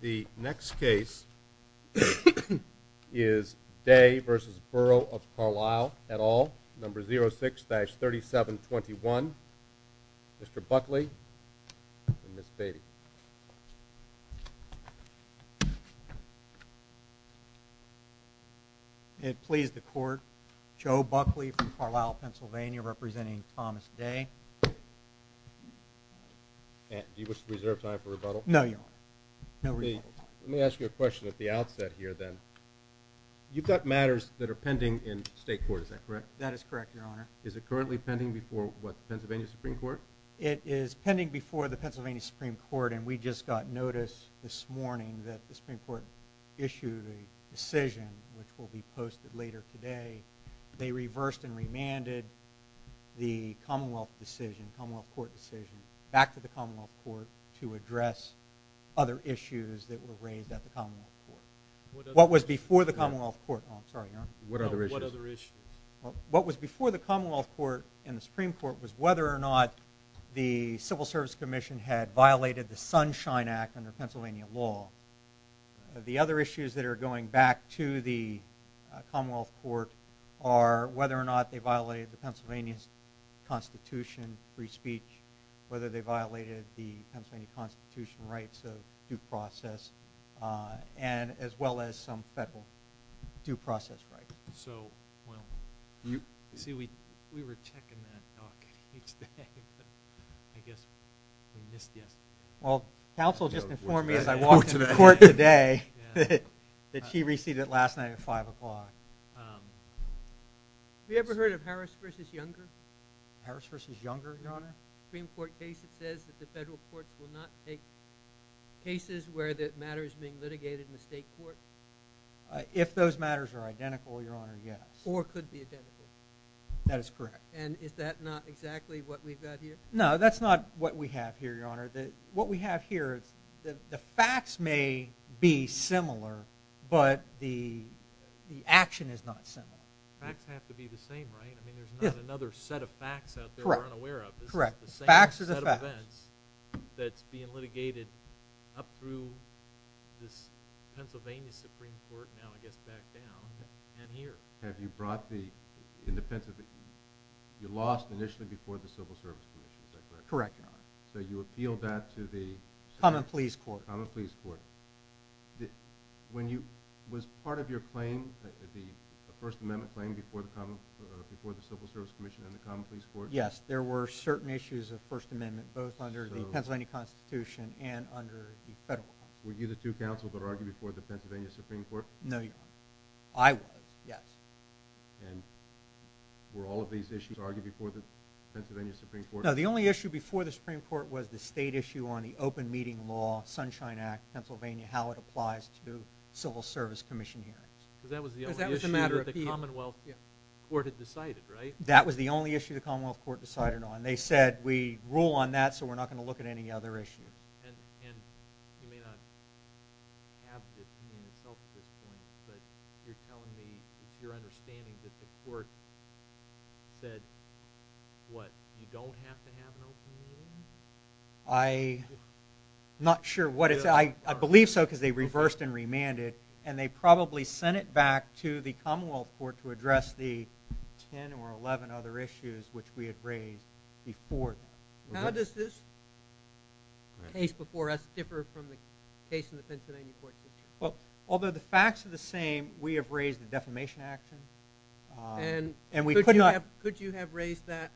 The next case is Day v. Boroughof Carlisle, et al., No. 06-3721. Mr. Buckley and Ms. Beatty. May it please the Court, Joe Buckley from Carlisle, Pennsylvania, representing Thomas Day. Do you wish to reserve time for rebuttal? No, Your Honor. Let me ask you a question at the outset here then. You've got matters that are pending in state court, is that correct? That is correct, Your Honor. Is it currently pending before, what, the Pennsylvania Supreme Court? It is pending before the Pennsylvania Supreme Court, and we just got notice this morning that the Supreme Court issued a decision which will be posted later today. They reversed and remanded the Commonwealth Court decision back to the Commonwealth Court to address other issues that were raised at the Commonwealth Court. What other issues? What was before the Commonwealth Court, oh I'm sorry, Your Honor. What other issues? What other issues? What was before the Commonwealth Court and the Supreme Court was whether or not the Civil Service Commission had violated the Sunshine Act under Pennsylvania law. The other issues that are going back to the Commonwealth Court are whether or not they violated the Pennsylvania Constitution, free speech, whether they violated the Pennsylvania Constitution rights of due process, and as well as some federal due process rights. So, well, you see we were checking that doc each day, but I guess we missed yes. Well, counsel just informed me as I walked to the court today that she received it last night at 5 o'clock. Have you ever heard of Harris v. Younger? Harris v. Younger, Your Honor? Supreme Court case that says that the federal courts will not take cases where the matter is being litigated in the state court. If those matters are identical, Your Honor, yes. Or could be identical. That is correct. And is that not exactly what we've got here? No, that's not what we have here, Your Honor. What we have here is the facts may be similar, but the action is not similar. Facts have to be the same, right? I mean, there's not another set of facts out there we're unaware of. Correct. This is the same set of events that's being litigated up through this Pennsylvania Supreme Court, now I guess back down, and here. Have you brought the independent – you lost initially before the Civil Service Commission, is that correct? Correct, Your Honor. So you appealed that to the – Common Pleas Court. Common Pleas Court. Was part of your claim, the First Amendment claim, before the Civil Service Commission and the Common Pleas Court? Yes, there were certain issues of First Amendment both under the Pennsylvania Constitution and under the federal Constitution. Were you the two counsel that argued before the Pennsylvania Supreme Court? No, Your Honor. I was, yes. And were all of these issues argued before the Pennsylvania Supreme Court? No, the only issue before the Supreme Court was the state issue on the Open Meeting Law, Sunshine Act, Pennsylvania, how it applies to Civil Service Commission hearings. Because that was the only issue that the Commonwealth Court had decided, right? That was the only issue the Commonwealth Court decided on. They said, we rule on that, so we're not going to look at any other issues. And you may not have this in itself at this point, but you're telling me it's your understanding that the court said what? You don't have to have an open meeting? I'm not sure what it said. I believe so because they reversed and remanded, and they probably sent it back to the Commonwealth Court to address the 10 or 11 other issues which we had raised before. How does this case before us differ from the case in the Pennsylvania court? Well, although the facts are the same, we have raised the defamation action. And could you have raised that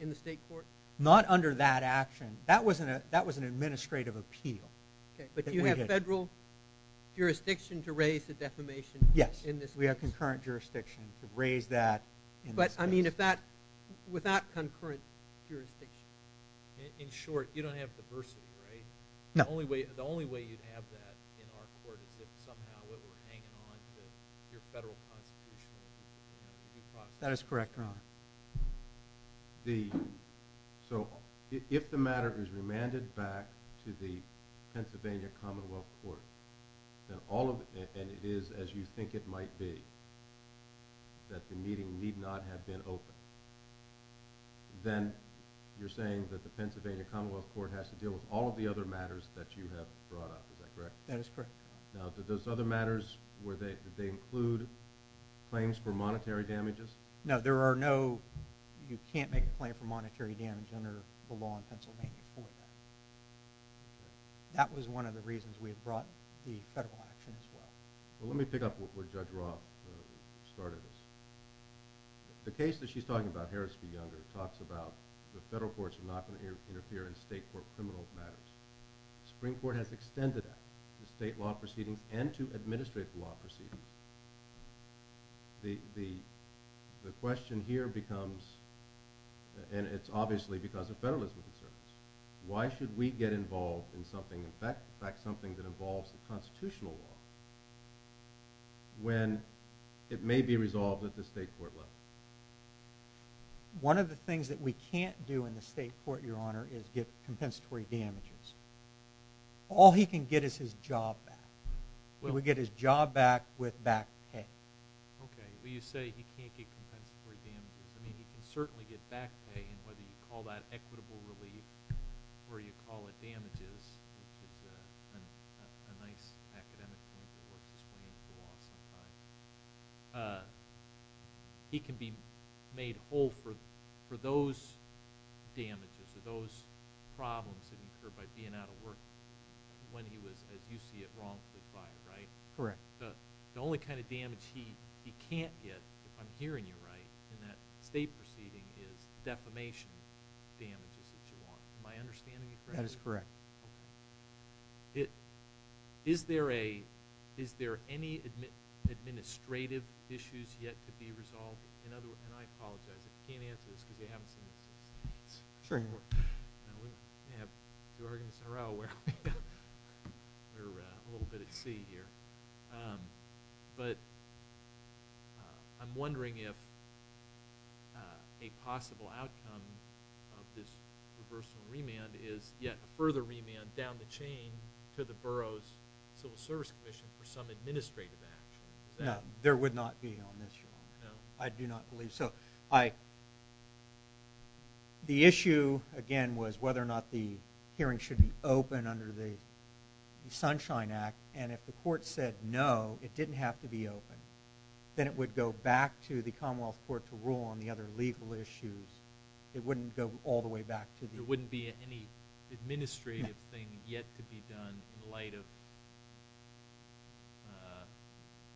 in the state court? Not under that action. That was an administrative appeal. Okay, but you have federal jurisdiction to raise the defamation in this case? Yes, we have concurrent jurisdiction to raise that in this case. I mean, with that concurrent jurisdiction, in short, you don't have diversity, right? No. The only way you'd have that in our court is if somehow it were hanging on to your federal constitutional process. That is correct, Your Honor. So if the matter is remanded back to the Pennsylvania Commonwealth Court, and it is as you think it might be that the meeting need not have been opened, then you're saying that the Pennsylvania Commonwealth Court has to deal with all of the other matters that you have brought up. Is that correct? That is correct, Your Honor. Now, did those other matters, did they include claims for monetary damages? No, you can't make a claim for monetary damage under the law in Pennsylvania for that. That was one of the reasons we had brought the federal action as well. Well, let me pick up where Judge Roth started this. The case that she's talking about, Harris v. Younger, talks about the federal courts are not going to interfere in state court criminal matters. The Supreme Court has extended that to state law proceedings and to administrative law proceedings. The question here becomes, and it's obviously because of federalism concerns, why should we get involved in something, in fact, something that involves the constitutional law when it may be resolved at the state court level? One of the things that we can't do in the state court, Your Honor, is get compensatory damages. All he can get is his job back. He would get his job back with back pay. Okay. Well, you say he can't get compensatory damages. I mean, he can certainly get back pay, and whether you call that equitable relief or you call it damages, which is a nice academic term that works its way into the law sometimes, he can be made whole for those damages or those problems that occur by being out of work when he was, as you see it, wrongfully fired, right? Correct. The only kind of damage he can't get, if I'm hearing you right, in that state proceeding is defamation damages that you want. Am I understanding you correctly? That is correct. Okay. Is there any administrative issues yet to be resolved? And I apologize if you can't answer this because you haven't seen this in six months. Sure. We have two organs in a row. We're a little bit at sea here. But I'm wondering if a possible outcome of this reversal remand is yet a further remand down the chain to the borough's civil service commission for some administrative action. No, there would not be on this, Your Honor. No. I do not believe so. The issue, again, was whether or not the hearing should be open under the Sunshine Act. And if the court said no, it didn't have to be open, then it would go back to the Commonwealth Court to rule on the other legal issues. It wouldn't go all the way back to the… There wouldn't be any administrative thing yet to be done in light of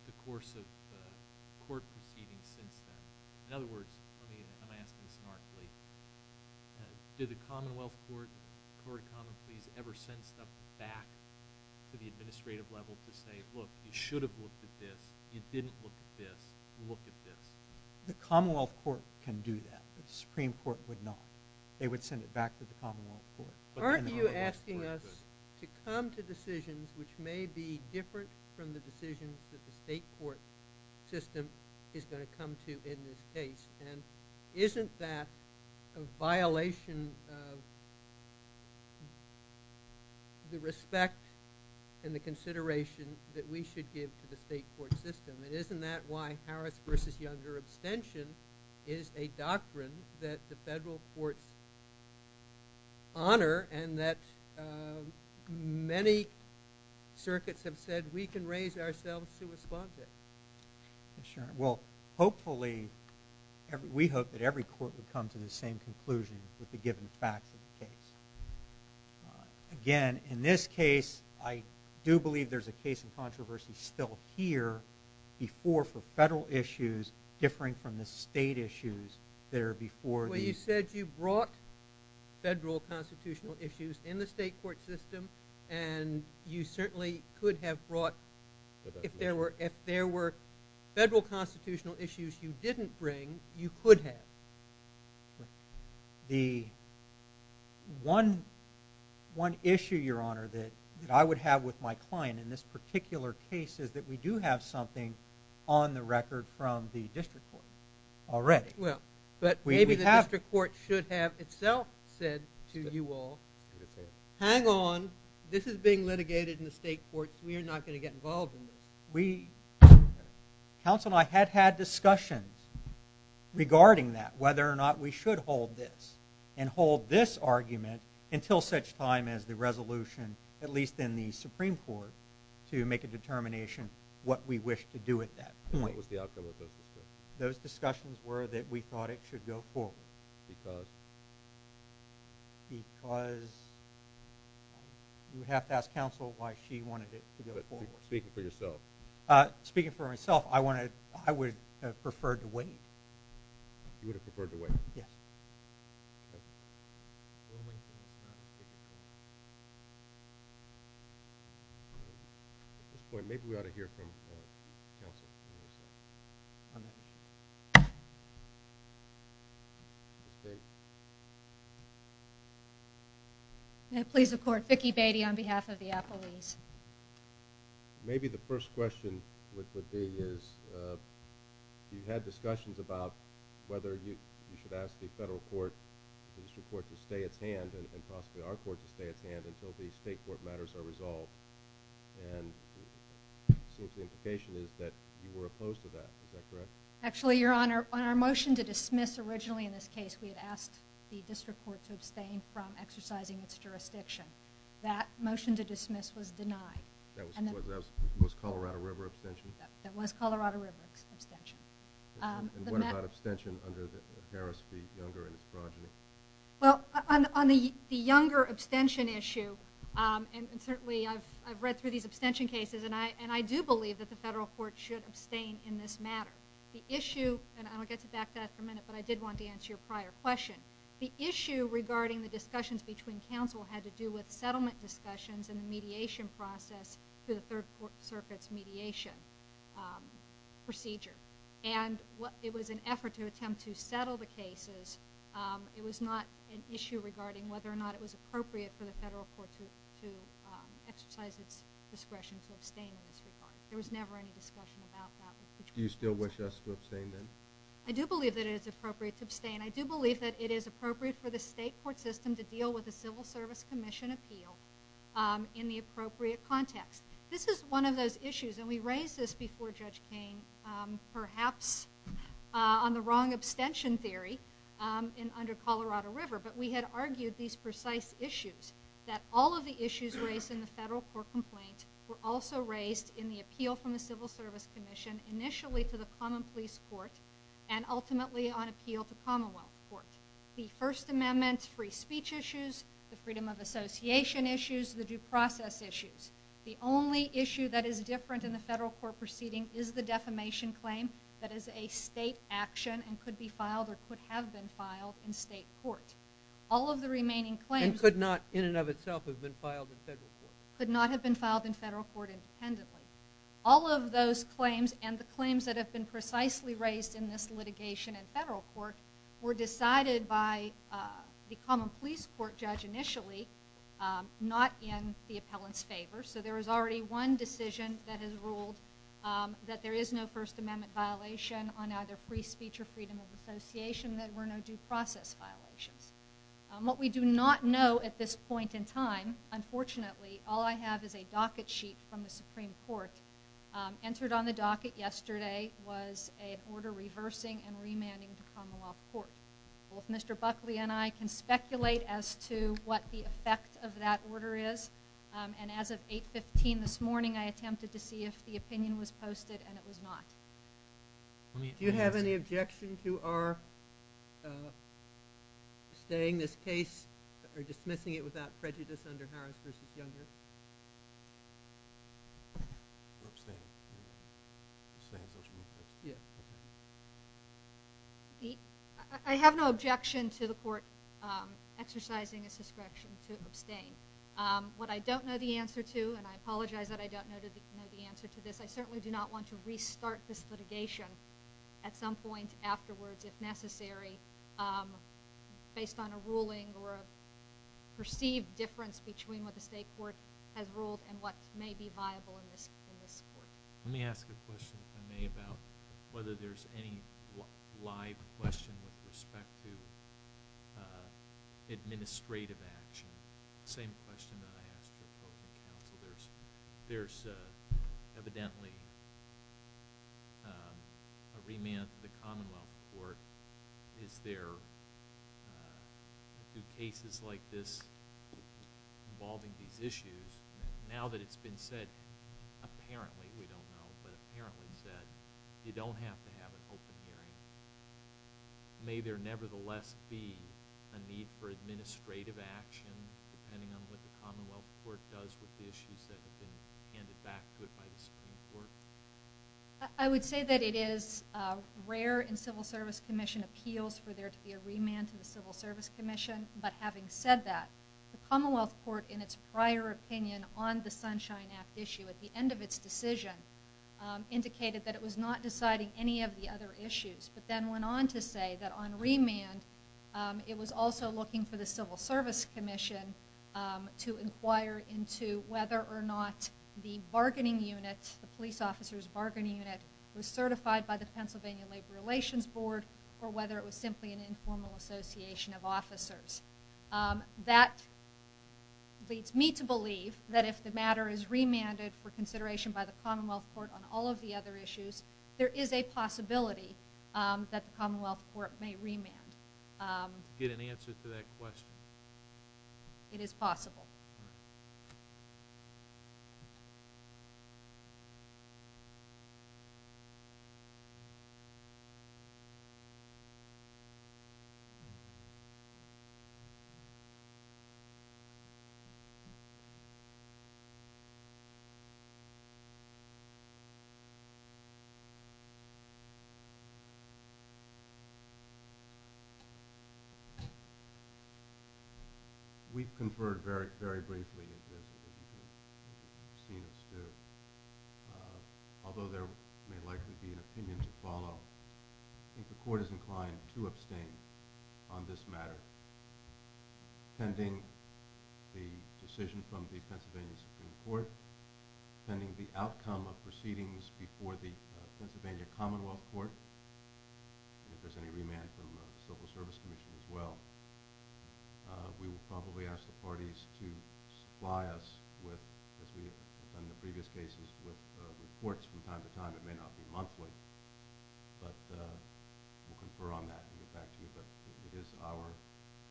the course of court proceedings since then. In other words, let me ask this smartly. Did the Commonwealth Court, the court of common pleas, ever send stuff back to the administrative level to say, look, you should have looked at this, you didn't look at this, look at this? The Commonwealth Court can do that. The Supreme Court would not. They would send it back to the Commonwealth Court. Aren't you asking us to come to decisions which may be different from the decisions that the state court system is going to come to in this case? And isn't that a violation of the respect and the consideration that we should give to the state court system? And isn't that why Harris v. Younger abstention is a doctrine that the federal courts honor and that many circuits have said we can raise ourselves to respond to it? Well, hopefully, we hope that every court would come to the same conclusion with the given facts of the case. Again, in this case, I do believe there's a case of controversy still here before for federal issues differing from the state issues that are before the… Well, you said you brought federal constitutional issues in the state court system, and you certainly could have brought if there were federal constitutional issues you didn't bring, you could have. The one issue, Your Honor, that I would have with my client in this particular case is that we do have something on the record from the district court already. Well, but maybe the district court should have itself said to you all, hang on, this is being litigated in the state courts, we are not going to get involved in this. Council and I had had discussions regarding that, whether or not we should hold this and hold this argument until such time as the resolution, at least in the Supreme Court, to make a determination what we wish to do at that point. What was the outcome of those discussions? Those discussions were that we thought it should go forward. Because? Because you would have to ask counsel why she wanted it to go forward. Speaking for yourself. Speaking for myself, I would have preferred to wait. You would have preferred to wait? Yes. Okay. At this point, maybe we ought to hear from counsel. I'm not sure. May it please the Court, Vicki Beatty on behalf of the Applebee's. Maybe the first question would be is, you had discussions about whether you should ask the federal court, the district court to stay its hand and possibly our court to stay its hand until the state court matters are resolved. And it seems the implication is that you were opposed to that. Is that correct? Actually, Your Honor, on our motion to dismiss originally in this case, we had asked the district court to abstain from exercising its jurisdiction. That motion to dismiss was denied. That was Colorado River abstention? That was Colorado River abstention. And what about abstention under Harris v. Younger and his progeny? Well, on the Younger abstention issue, and certainly I've read through these abstention cases, and I do believe that the federal court should abstain in this matter. The issue, and I'll get back to that in a minute, but I did want to answer your prior question. The issue regarding the discussions between counsel had to do with settlement of the discussions and the mediation process to the Third Court Circuit's mediation procedure. And it was an effort to attempt to settle the cases. It was not an issue regarding whether or not it was appropriate for the federal court to exercise its discretion to abstain in this regard. There was never any discussion about that. Do you still wish us to abstain then? I do believe that it is appropriate to abstain. I do believe that it is appropriate for the state court system to deal with the Civil Service Commission appeal in the appropriate context. This is one of those issues, and we raised this before Judge Cain, perhaps on the wrong abstention theory under Colorado River. But we had argued these precise issues, that all of the issues raised in the federal court complaint were also raised in the appeal from the Civil Service Commission, initially to the common police court, and ultimately on appeal to Commonwealth Court. The First Amendment, free speech issues, the freedom of association issues, the due process issues. The only issue that is different in the federal court proceeding is the defamation claim that is a state action and could be filed or could have been filed in state court. All of the remaining claims- And could not, in and of itself, have been filed in federal court. Could not have been filed in federal court independently. All of those claims and the claims that have been precisely raised in this litigation in federal court were decided by the common police court judge initially, not in the appellant's favor. So there was already one decision that has ruled that there is no First Amendment violation on either free speech or freedom of association, that there were no due process violations. What we do not know at this point in time, unfortunately, all I have is a docket sheet from the Supreme Court. Entered on the docket yesterday was an order reversing and remanding to Commonwealth Court. Both Mr. Buckley and I can speculate as to what the effect of that order is. And as of 8.15 this morning, I attempted to see if the opinion was posted, and it was not. Do you have any objection to our staying this case or dismissing it without prejudice under Harris v. Younger? I have no objection to the court exercising its discretion to abstain. What I don't know the answer to, and I apologize that I don't know the answer to this, I certainly do not want to restart this litigation at some point afterwards, if necessary, based on a ruling or a perceived difference between what the state court has ruled and what may be viable in this court. Let me ask a question, if I may, about whether there's any live question with respect to administrative action. The same question that I asked the appropriate counsel. There's evidently a remand to the Commonwealth Court. Is there cases like this involving these issues? Now that it's been said, apparently, we don't know, but apparently said, you don't have to have an open hearing. May there nevertheless be a need for administrative action, depending on what the Commonwealth Court does with the issues that have been handed back to it by the Supreme Court? I would say that it is rare in Civil Service Commission appeals for there to be a remand to the Civil Service Commission, but having said that, the Commonwealth Court, in its prior opinion on the Sunshine Act issue at the end of its decision, indicated that it was not deciding any of the other issues, but then went on to say that on remand, it was also looking for the Civil Service Commission to inquire into whether or not the bargaining unit, the police officer's bargaining unit, was certified by the Pennsylvania Labor Relations Board or whether it was simply an informal association of officers. That leads me to believe that if the matter is remanded for consideration by the Commonwealth Court on all of the other issues, there is a possibility that the Commonwealth Court may remand. Did you get an answer to that question? It is possible. We've conferred very briefly at this meeting. You've seen us do. Although there may likely be an opinion to follow, I think the Court is inclined to abstain on this matter. Pending the decision from the Pennsylvania Supreme Court, pending the outcome of proceedings before the Pennsylvania Commonwealth Court, and if there's any remand from the Civil Service Commission as well, we will probably ask the parties to supply us with, as we have done in the previous cases, with reports from time to time. It may not be monthly, but we'll confer on that and get back to you. But it is our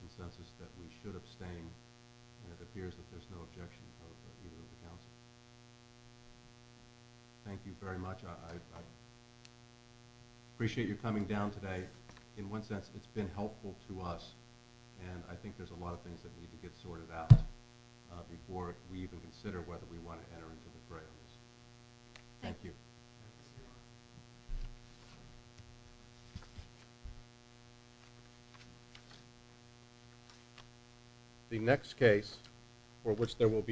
consensus that we should abstain, and it appears that there's no objection of either of the counsels. Thank you very much. I appreciate your coming down today. In one sense, it's been helpful to us, and I think there's a lot of things that need to get sorted out before we even consider whether we want to enter into the fray of this. Thank you. The next case for which there will be no questions...